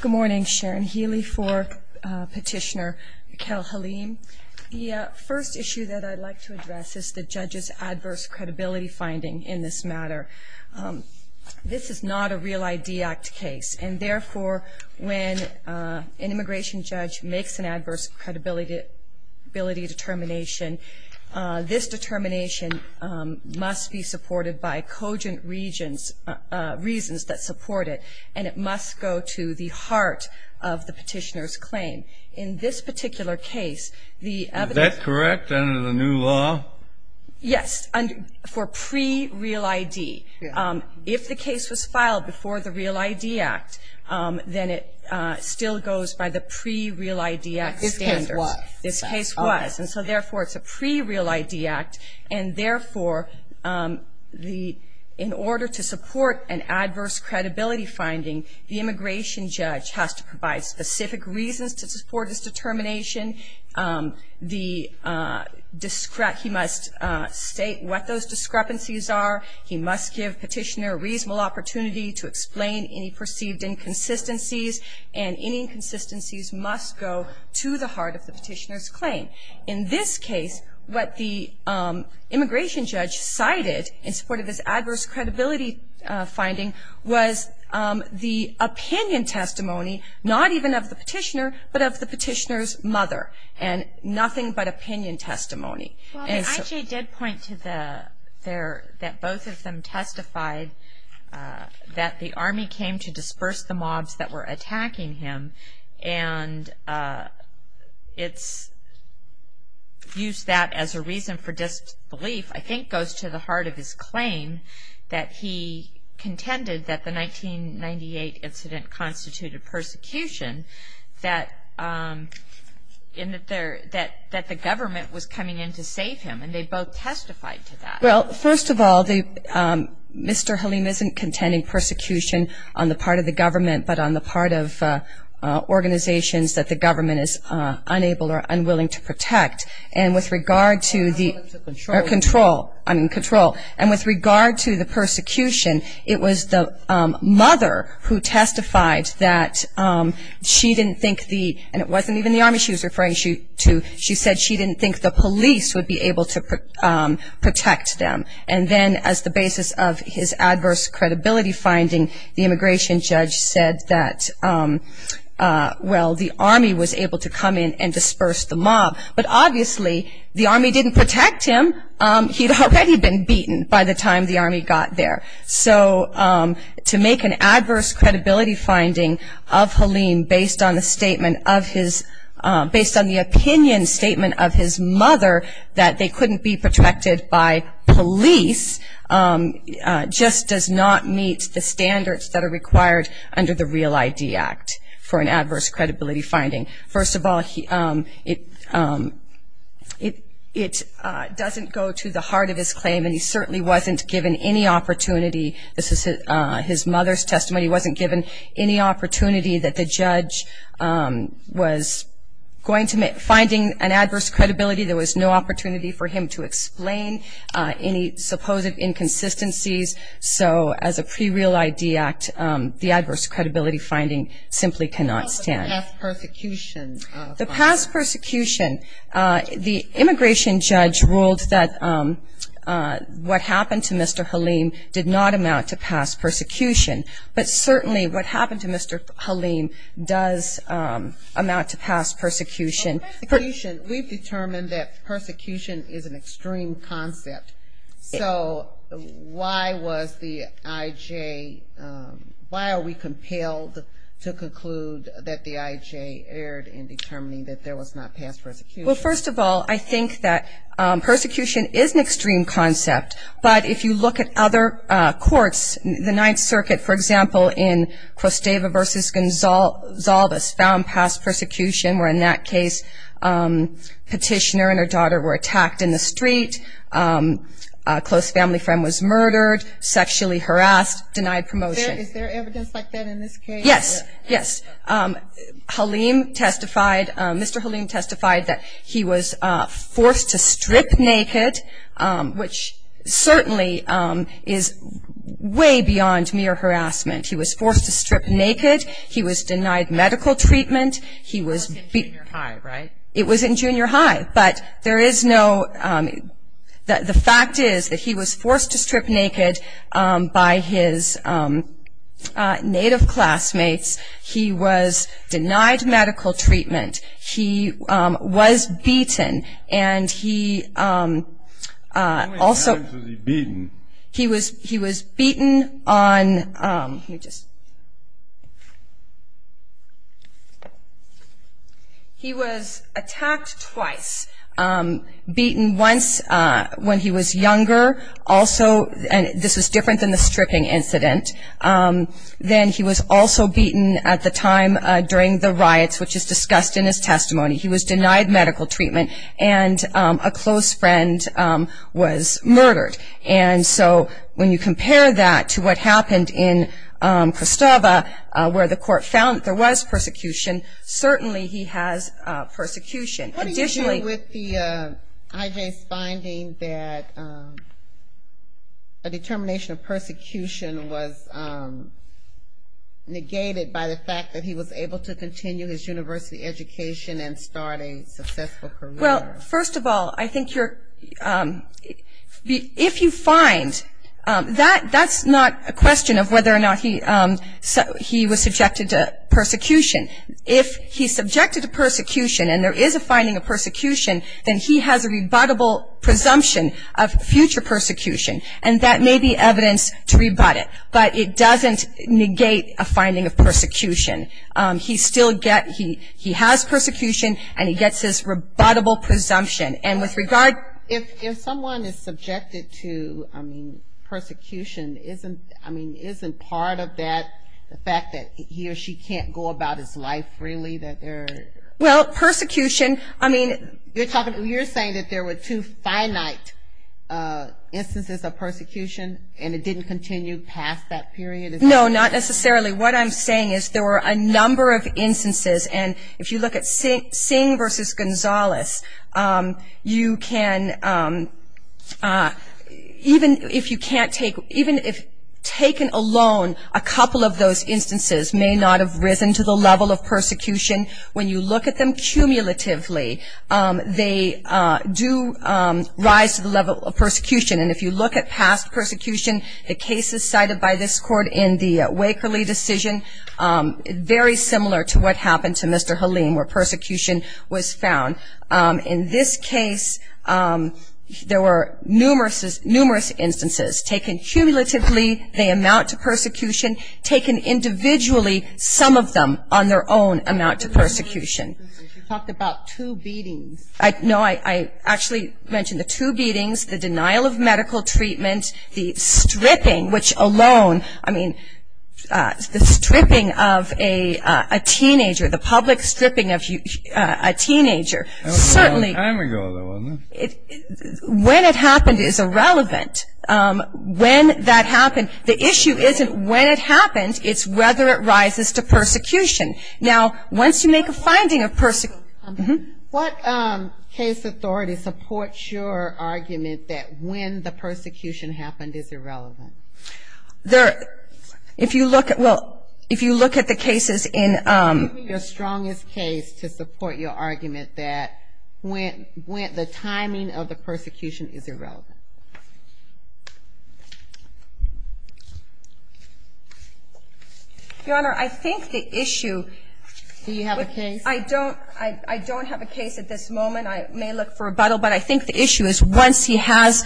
Good morning, Sharon Healy for Petitioner Kel Halim. The first issue that I'd like to address is the judge's adverse credibility finding in this matter. This is not a Real ID Act case, and therefore, when an immigration judge makes an adverse credibility determination, this determination must be supported by cogent reasons that support it, and it must go to the heart of the petitioner's claim. In this particular case, the evidence... Is that correct under the new law? Yes, for pre-Real ID. If the case was filed before the Real ID Act, then it still goes by the pre-Real ID Act standards. This case was. This case was, and so therefore, it's a pre-Real ID Act, and therefore, in order to support an adverse credibility finding, the immigration judge has to provide specific reasons to support his determination. He must state what those discrepancies are. He must give petitioner a reasonable opportunity to explain any perceived inconsistencies, and any inconsistencies must go to the heart of the petitioner's claim. In this case, what the immigration judge cited in support of his adverse credibility finding was the opinion testimony, not even of the petitioner, but of the petitioner's mother, and nothing but opinion testimony. The IJ did point to that both of them testified that the Army came to disperse the mobs that were attacking him, and it's used that as a reason for disbelief, I think goes to the heart of his claim, that he contended that the 1998 incident constituted persecution, that the government was coming in to save him, and they both testified to that. Well, first of all, Mr. Halim isn't contending persecution on the part of the government, but on the part of organizations that the government is unable or unwilling to protect, and with regard to the control, and with regard to the persecution, it was the mother who testified that she didn't think the, and it wasn't even the Army she was referring to, she said she didn't think the police would be able to protect them, and then as the basis of his adverse credibility finding, the immigration judge said that, well, the Army was able to come in and disperse the mob, but obviously the Army didn't protect him. He'd already been beaten by the time the Army got there, so to make an adverse credibility finding of Halim based on the statement of his, based on the opinion statement of his mother that they couldn't be protected by police, just does not meet the standards that are required under the Real ID Act for an adverse credibility finding. First of all, it doesn't go to the heart of his claim, and he certainly wasn't given any opportunity. This is his mother's testimony. He wasn't given any opportunity that the judge was going to find an adverse credibility. There was no opportunity for him to explain any supposed inconsistencies, so as a pre-Real ID Act, the adverse credibility finding simply cannot stand. The past persecution, the immigration judge ruled that what happened to Mr. Halim did not amount to past persecution, but certainly what happened to Mr. Halim does amount to past persecution. We've determined that persecution is an extreme concept, so why was the IJ, why are we compelled to conclude that the IJ erred in determining that there was not past persecution? Well, first of all, I think that persecution is an extreme concept, but if you look at other courts, the Ninth Circuit, for example, in Crosteva v. Gonzalves found past persecution, where in that case petitioner and her daughter were attacked in the street, a close family friend was murdered, sexually harassed, denied promotion. Is there evidence like that in this case? Yes, yes. Halim testified, Mr. Halim testified that he was forced to strip naked, which certainly is way beyond mere harassment. He was forced to strip naked, he was denied medical treatment, He was in junior high, right? It was in junior high, but there is no, the fact is that he was forced to strip naked by his native classmates, he was denied medical treatment, he was beaten, and he also, How many times was he beaten? He was, he was beaten on, let me just, he was attacked twice, beaten once when he was younger, also, and this was different than the stripping incident, then he was also beaten at the time during the riots, which is discussed in his testimony, he was denied medical treatment, and a close friend was murdered. And so when you compare that to what happened in Christova, where the court found that there was persecution, certainly he has persecution. Additionally, What do you do with the IJ's finding that a determination of persecution was negated by the fact that he was able to continue his university education and start a successful career? Well, first of all, I think you're, if you find, that's not a question of whether or not he was subjected to persecution. If he's subjected to persecution and there is a finding of persecution, then he has a rebuttable presumption of future persecution, and that may be evidence to rebut it, but it doesn't negate a finding of persecution. He still gets, he has persecution, and he gets his rebuttable presumption. And with regard If someone is subjected to, I mean, persecution, isn't, I mean, isn't part of that the fact that he or she can't go about his life freely, that there Well, persecution, I mean You're talking, you're saying that there were two finite instances of persecution, and it didn't continue past that period? No, not necessarily. What I'm saying is there were a number of instances, and if you look at Singh versus Gonzalez, you can, even if you can't take, even if taken alone, a couple of those instances may not have risen to the level of persecution. When you look at them cumulatively, they do rise to the level of persecution, and if you look at past persecution, the cases cited by this court in the Wakerley decision, very similar to what happened to Mr. Haleem, where persecution was found. In this case, there were numerous instances. Taken cumulatively, they amount to persecution. Taken individually, some of them on their own amount to persecution. You talked about two beatings. No, I actually mentioned the two beatings, the denial of medical treatment, the stripping, which alone, I mean, the stripping of a teenager, the public stripping of a teenager, certainly That was a long time ago, though, wasn't it? When it happened is irrelevant. When that happened, the issue isn't when it happened, it's whether it rises to persecution. Now, once you make a finding of What case authority supports your argument that when the persecution happened is irrelevant? If you look at the cases in What would be your strongest case to support your argument that the timing of the persecution is irrelevant? Your Honor, I think the issue Do you have a case? I don't have a case at this moment. I may look for rebuttal, but I think the issue is once he has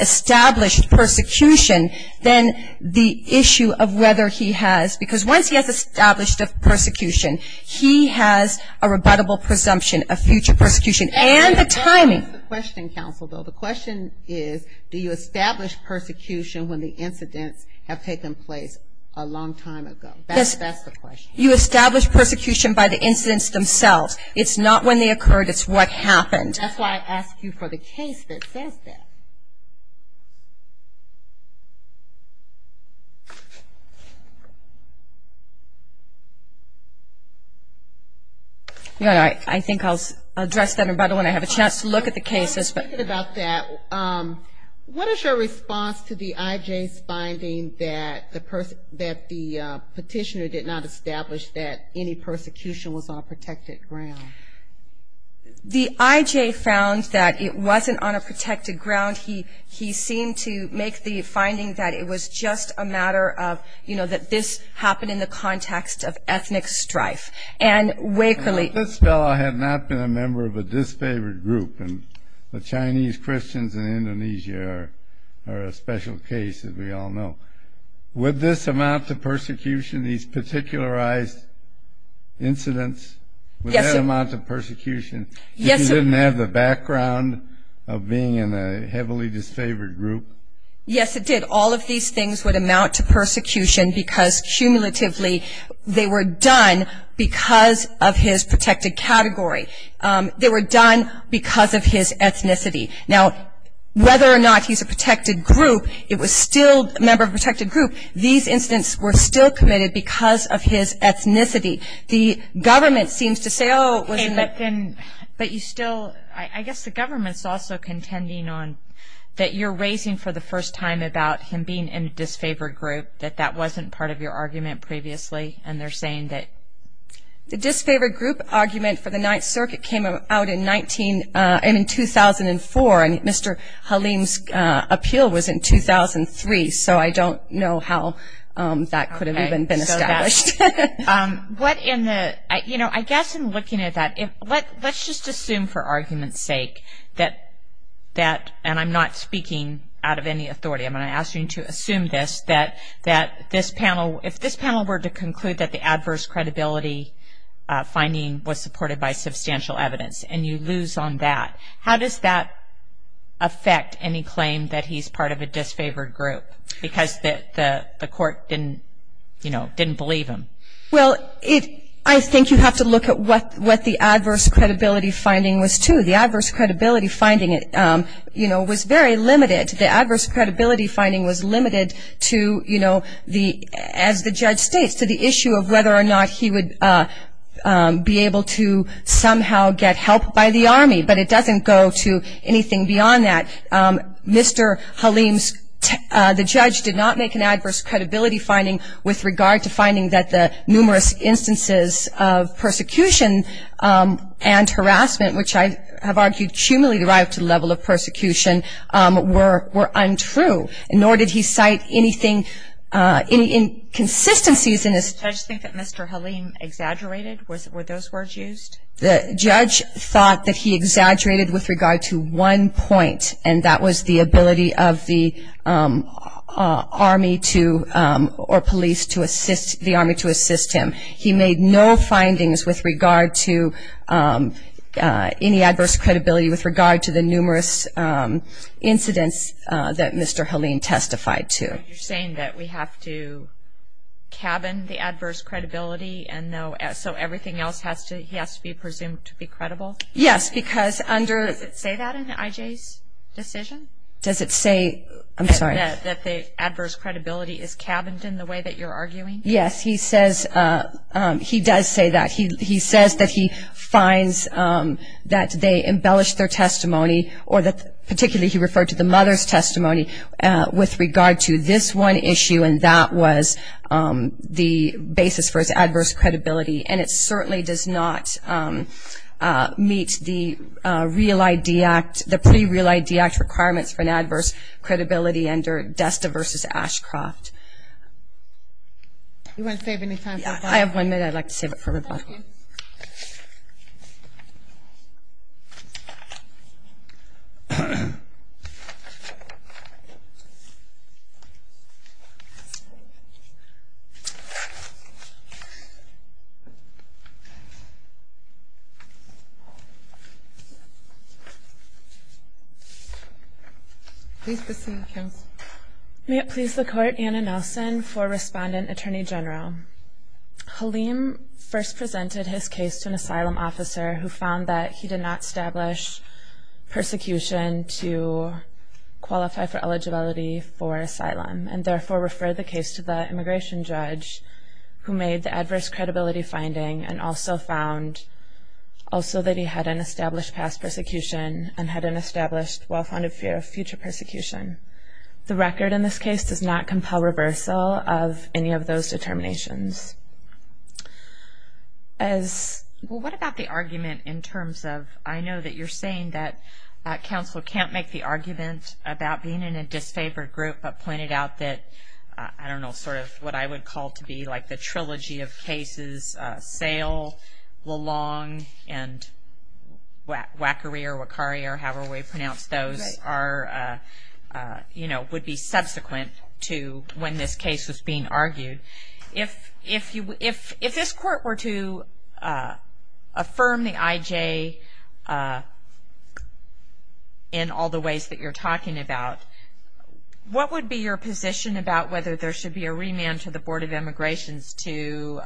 established persecution, then the issue of whether he has, because once he has established the persecution, he has a rebuttable presumption of future persecution and the timing That's the question, counsel, though. The question is, do you establish persecution when the incidents have taken place a long time ago? That's the question. You establish persecution by the incidents themselves. It's not when they occurred. It's what happened. That's why I asked you for the case that says that. I think I'll address that rebuttal when I have a chance to look at the cases. Speaking about that, what is your response to the I.J.'s finding that the petitioner did not establish that any persecution was on protected ground? The I.J. found that it wasn't on a protected ground. He seemed to make the finding that it was just a matter of, you know, that this happened in the context of ethnic strife. And Wakerly But this fellow had not been a member of a disfavored group, and the Chinese Christians in Indonesia are a special case, as we all know. Would this amount to persecution, these particularized incidents? Yes. Would that amount to persecution? Yes. If he didn't have the background of being in a heavily disfavored group? Yes, it did. All of these things would amount to persecution because, cumulatively, they were done because of his protected category. They were done because of his ethnicity. Now, whether or not he's a protected group, it was still a member of a protected group, these incidents were still committed because of his ethnicity. The government seems to say, oh, it wasn't that. But you still, I guess the government's also contending on that you're raising for the first time about him being in a disfavored group, that that wasn't part of your argument previously, and they're saying that... The disfavored group argument for the Ninth Circuit came out in 2004, and Mr. Halim's appeal was in 2003, so I don't know how that could have even been established. What in the, you know, I guess in looking at that, let's just assume for argument's sake that, and I'm not speaking out of any authority, I'm going to ask you to assume this, that if this panel were to conclude that the adverse credibility finding was supported by substantial evidence and you lose on that, how does that affect any claim that he's part of a disfavored group because the court, you know, didn't believe him? Well, I think you have to look at what the adverse credibility finding was too. The adverse credibility finding, you know, was very limited. The adverse credibility finding was limited to, you know, the, as the judge states, to the issue of whether or not he would be able to somehow get help by the Army, but it doesn't go to anything beyond that. Mr. Halim's, the judge did not make an adverse credibility finding with regard to finding that the numerous instances of persecution and harassment, which I have argued truly derived to the level of persecution, were untrue, nor did he cite anything, any inconsistencies in this. Did the judge think that Mr. Halim exaggerated? Were those words used? The judge thought that he exaggerated with regard to one point, and that was the ability of the Army to, or police to assist, the Army to assist him. He made no findings with regard to any adverse credibility with regard to the numerous incidents that Mr. Halim testified to. You're saying that we have to cabin the adverse credibility and so everything else has to, he has to be presumed to be credible? Yes, because under... Does it say that in IJ's decision? Does it say, I'm sorry... That the adverse credibility is cabined in the way that you're arguing? Yes, he says, he does say that. He says that he finds that they embellished their testimony, or that particularly he referred to the mother's testimony, with regard to this one issue, and that was the basis for his adverse credibility, and it certainly does not meet the Real ID Act, the pre-Real ID Act requirements for an adverse credibility under Desta v. Ashcroft. Do you want to save any time? I have one minute. I'd like to save it for rebuttal. Thank you. Please proceed, counsel. May it please the Court, Anna Nelson, for Respondent, Attorney General. Halim first presented his case to an asylum officer who found that he did not establish persecution to qualify for eligibility for asylum, and therefore referred the case to the immigration judge who made the adverse credibility finding and also found that he hadn't established past persecution and hadn't established well-founded fear of future persecution. The record in this case does not compel reversal of any of those determinations. What about the argument in terms of, I know that you're saying that counsel can't make the argument about being in a disfavored group, but pointed out that, I don't know, sort of what I would call to be like the trilogy of cases, Sayle, Lalong, and Wackery or Wachari, or however we pronounce those, would be subsequent to when this case was being argued. If this Court were to affirm the IJ in all the ways that you're talking about, what would be your position about whether there should be a remand to the Board of Immigrations for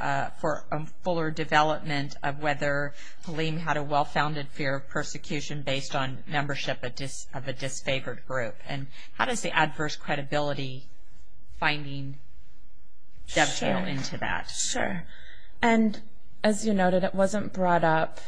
a fuller development of whether Halim had a well-founded fear of persecution based on membership of a disfavored group? And how does the adverse credibility finding dovetail into that? Sure. And as you noted, it wasn't brought up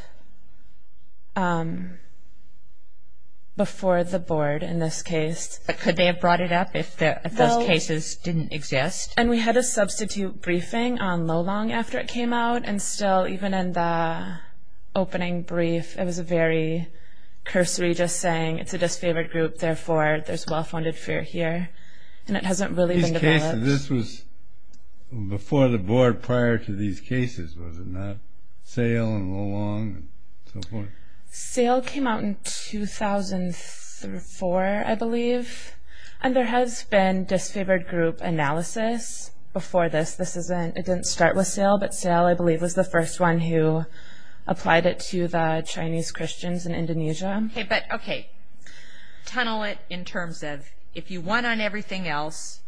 before the Board in this case. But could they have brought it up if those cases didn't exist? And we had a substitute briefing on Lalong after it came out, and still, even in the opening brief, it was a very cursory just saying, it's a disfavored group, therefore there's well-founded fear here. And it hasn't really been developed. This was before the Board, prior to these cases, was it not? Sayle and Lalong and so forth. Sayle came out in 2004, I believe. And there has been disfavored group analysis before this. It didn't start with Sayle, but Sayle, I believe, was the first one who applied it to the Chinese Christians in Indonesia. Okay. But, okay. Tunnel it in terms of, if you won on everything else,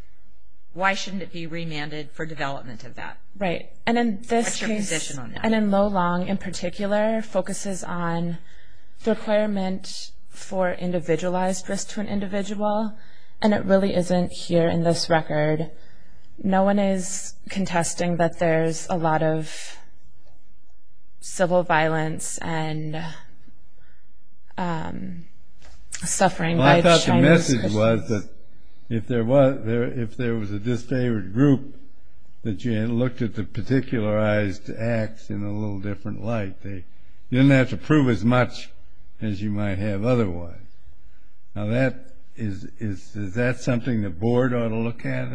why shouldn't it be remanded for development of that? Right. And in this case, and in Lalong in particular, focuses on the requirement for individualized risk to an individual, and it really isn't here in this record. No one is contesting that there's a lot of civil violence and suffering by the Chinese Christians. Well, I thought the message was that if there was a disfavored group, that you had looked at the particularized acts in a little different light. You didn't have to prove as much as you might have otherwise. Now, is that something the board ought to look at?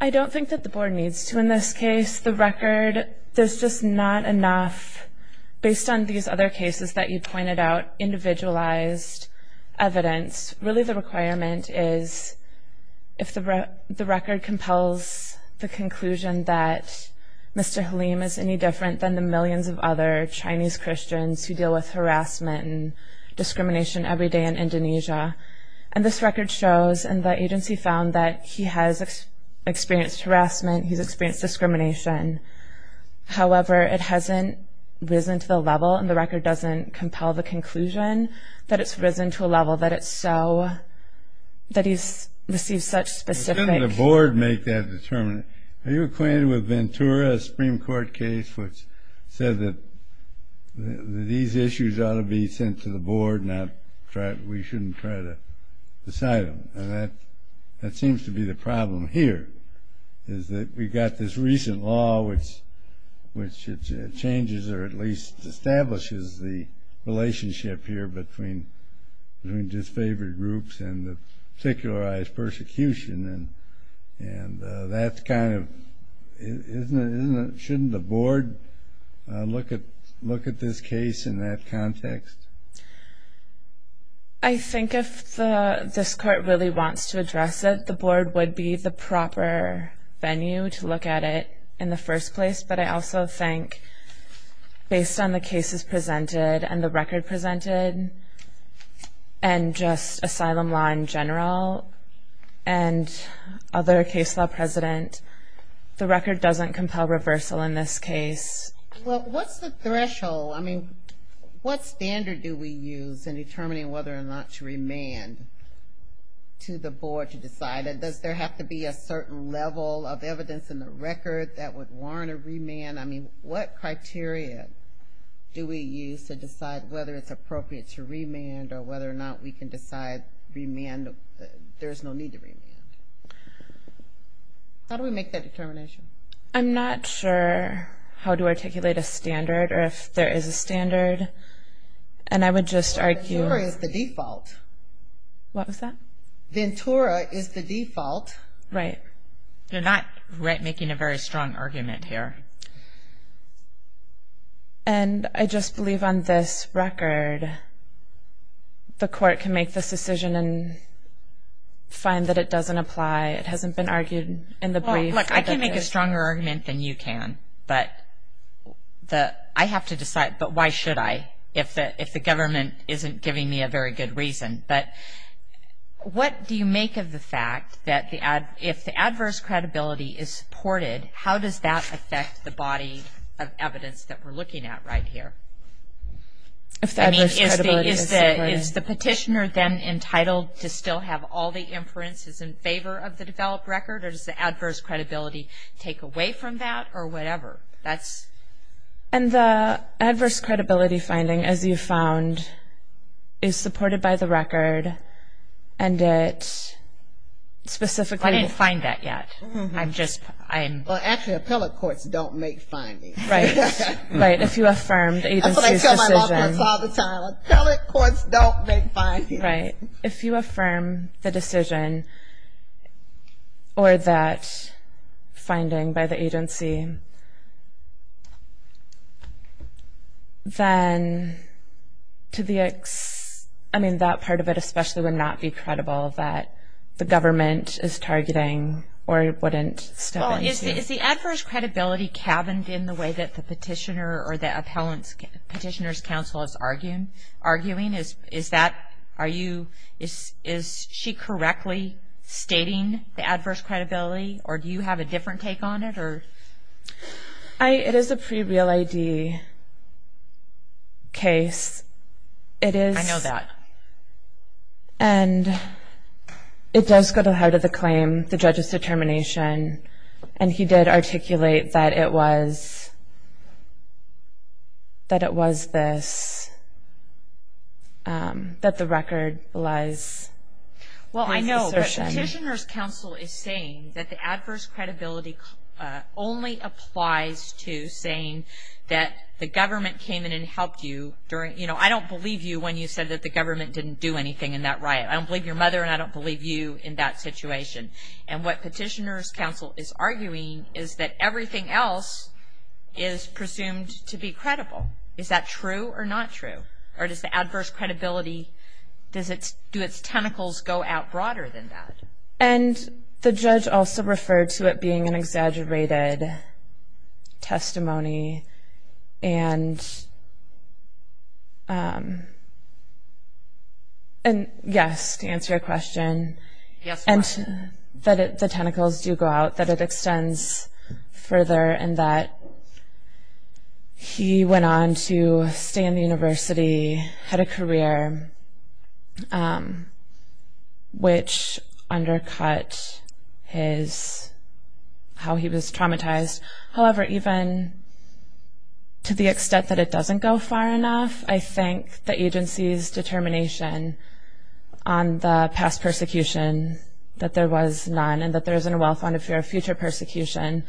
I don't think that the board needs to in this case. The record, there's just not enough, based on these other cases that you pointed out, individualized evidence. Really, the requirement is if the record compels the conclusion that Mr. Halim is any different than the millions of other Chinese Christians who deal with harassment and discrimination every day in Indonesia. And this record shows, and the agency found, that he has experienced harassment, he's experienced discrimination. However, it hasn't risen to the level, and the record doesn't compel the conclusion, that it's risen to a level that it's so, that he's received such specific... But shouldn't the board make that determination? Are you acquainted with Ventura Supreme Court case, which said that these issues ought to be sent to the board, and we shouldn't try to decide them? And that seems to be the problem here, is that we've got this recent law which changes, or at least establishes the relationship here between disfavored groups and the particularized persecution. And that's kind of... Shouldn't the board look at this case in that context? I think if this court really wants to address it, the board would be the proper venue to look at it in the first place. But I also think, based on the cases presented, and the record presented, and just asylum law in general, and other case law precedent, the record doesn't compel reversal in this case. Well, what's the threshold? I mean, what standard do we use in determining whether or not to remand to the board to decide? Does there have to be a certain level of evidence in the record that would warrant a remand? I mean, what criteria do we use to decide whether it's appropriate to remand or whether or not we can decide remand? There's no need to remand. How do we make that determination? I'm not sure how to articulate a standard or if there is a standard. And I would just argue... Ventura is the default. What was that? Ventura is the default. Right. You're not making a very strong argument here. And I just believe on this record the court can make this decision and find that it doesn't apply. It hasn't been argued in the brief. Look, I can make a stronger argument than you can, but I have to decide, but why should I if the government isn't giving me a very good reason? But what do you make of the fact that if the adverse credibility is supported, how does that affect the body of evidence that we're looking at right here? I mean, is the petitioner then entitled to still have all the inferences in favor of the developed record, or does the adverse credibility take away from that or whatever? And the adverse credibility finding, as you found, is supported by the record and it specifically... I didn't find that yet. I'm just... Well, actually, appellate courts don't make findings. Right. If you affirm the agency's decision... That's what I tell my mother all the time. Appellate courts don't make findings. Right. If you affirm the decision or that finding by the agency, then to the... I mean, that part of it especially would not be credible that the government is targeting or wouldn't step into. Well, is the adverse credibility cabined in the way that the petitioner or the appellant's petitioner's counsel is arguing? Is that... Are you... Is she correctly stating the adverse credibility, or do you have a different take on it? It is a pre-real ID case. I know that. And it does go to heart of the claim, the judge's determination, and he did articulate that it was this, that the record was this assertion. Well, I know, but petitioner's counsel is saying that the adverse credibility only applies to saying that the government came in and helped you during... You know, I don't believe you when you said that the government didn't do anything in that riot. I don't believe your mother, and I don't believe you in that situation. And what petitioner's counsel is arguing is that everything else is presumed to be credible. Is that true or not true? Or does the adverse credibility, do its tentacles go out broader than that? And the judge also referred to it being an exaggerated testimony. And, yes, to answer your question. And that the tentacles do go out, that it extends further, and that he went on to stay in the university, had a career, which undercut how he was traumatized. However, even to the extent that it doesn't go far enough, I think the agency's determination on the past persecution that there was none and that there isn't a well-founded fear of future persecution,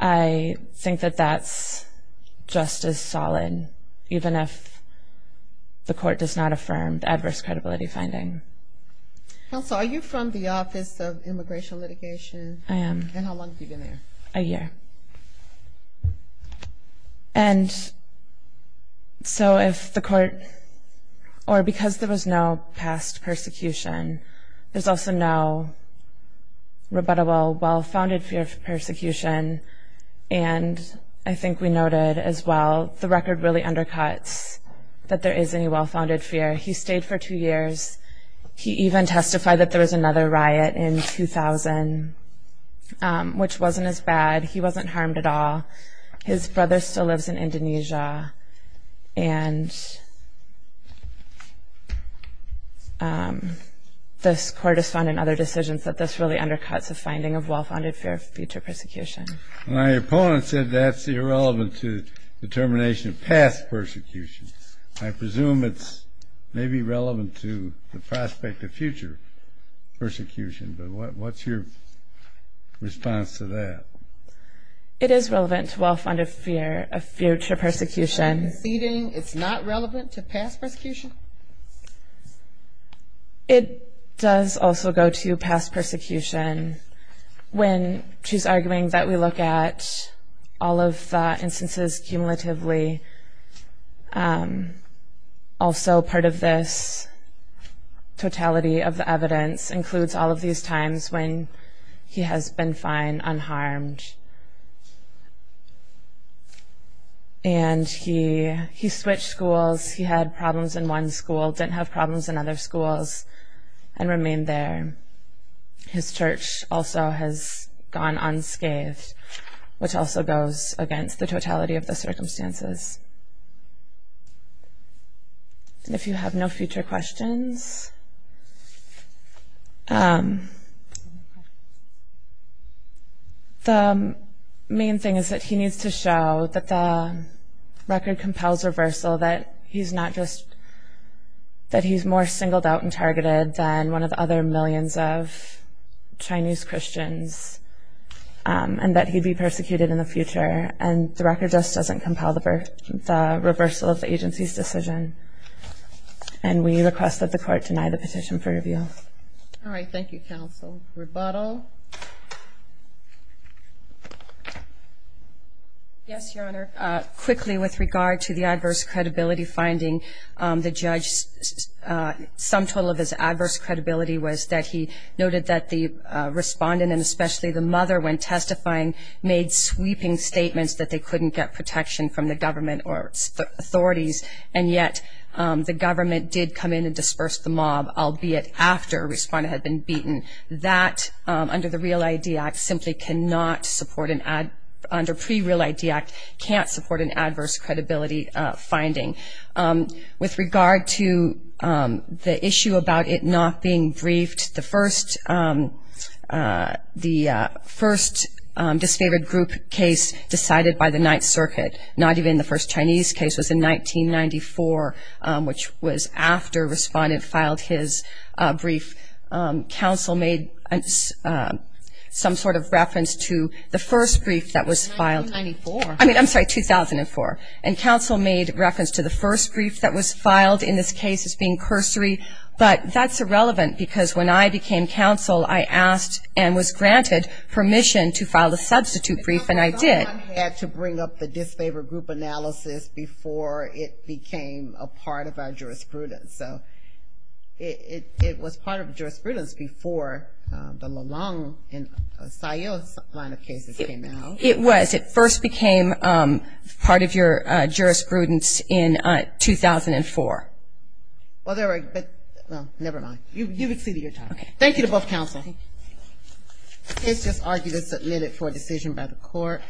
I think that that's just as solid, even if the court does not affirm the adverse credibility finding. Counsel, are you from the Office of Immigration Litigation? I am. And how long have you been there? A year. And so if the court, or because there was no past persecution, there's also no rebuttable well-founded fear of persecution. And I think we noted as well, the record really undercuts that there is any well-founded fear. He stayed for two years. He even testified that there was another riot in 2000, which wasn't as bad. He wasn't harmed at all. His brother still lives in Indonesia. And this court has found in other decisions that this really undercuts the finding of well-founded fear of future persecution. My opponent said that's irrelevant to determination of past persecution. I presume it's maybe relevant to the prospect of future persecution, but what's your response to that? It is relevant to well-founded fear of future persecution. It's not relevant to past persecution? It does also go to past persecution. When she's arguing that we look at all of the instances cumulatively, also part of this totality of the evidence includes all of these times when he has been fine, unharmed. And he switched schools. He had problems in one school, didn't have problems in other schools, and remained there. His church also has gone unscathed, which also goes against the totality of the circumstances. And if you have no future questions, the main thing is that he needs to show that the record compels reversal, that he's more singled out and targeted than one of the other millions of Chinese Christians, and that he'd be persecuted in the future. And the record just doesn't compel the reversal of the agency's decision. And we request that the court deny the petition for review. All right. Thank you, counsel. Rebuttal? Yes, Your Honor. Quickly, with regard to the adverse credibility finding, the judge's sum total of his adverse credibility was that he noted that the respondent, and especially the mother, when testifying made sweeping statements that they couldn't get protection from the government or authorities, and yet the government did come in and disperse the mob, albeit after a respondent had been beaten. That, under the Real ID Act, simply cannot support an adverse credibility finding. With regard to the issue about it not being briefed, the first disfavored group case decided by the Ninth Circuit, not even the first Chinese case, was in 1994, which was after a respondent filed his brief. Counsel made some sort of reference to the first brief that was filed. 1994? I'm sorry, 2004. And counsel made reference to the first brief that was filed, in this case as being cursory. But that's irrelevant because when I became counsel, I asked and was granted permission to file the substitute brief, and I did. I thought I had to bring up the disfavored group analysis before it became a part of our jurisprudence. So it was part of jurisprudence before the Lalong and Sayo line of cases came out. It was. It first became part of your jurisprudence in 2004. Well, never mind. You've exceeded your time. Okay. Thank you to both counsel. Okay. The case just argued as submitted for a decision by the court.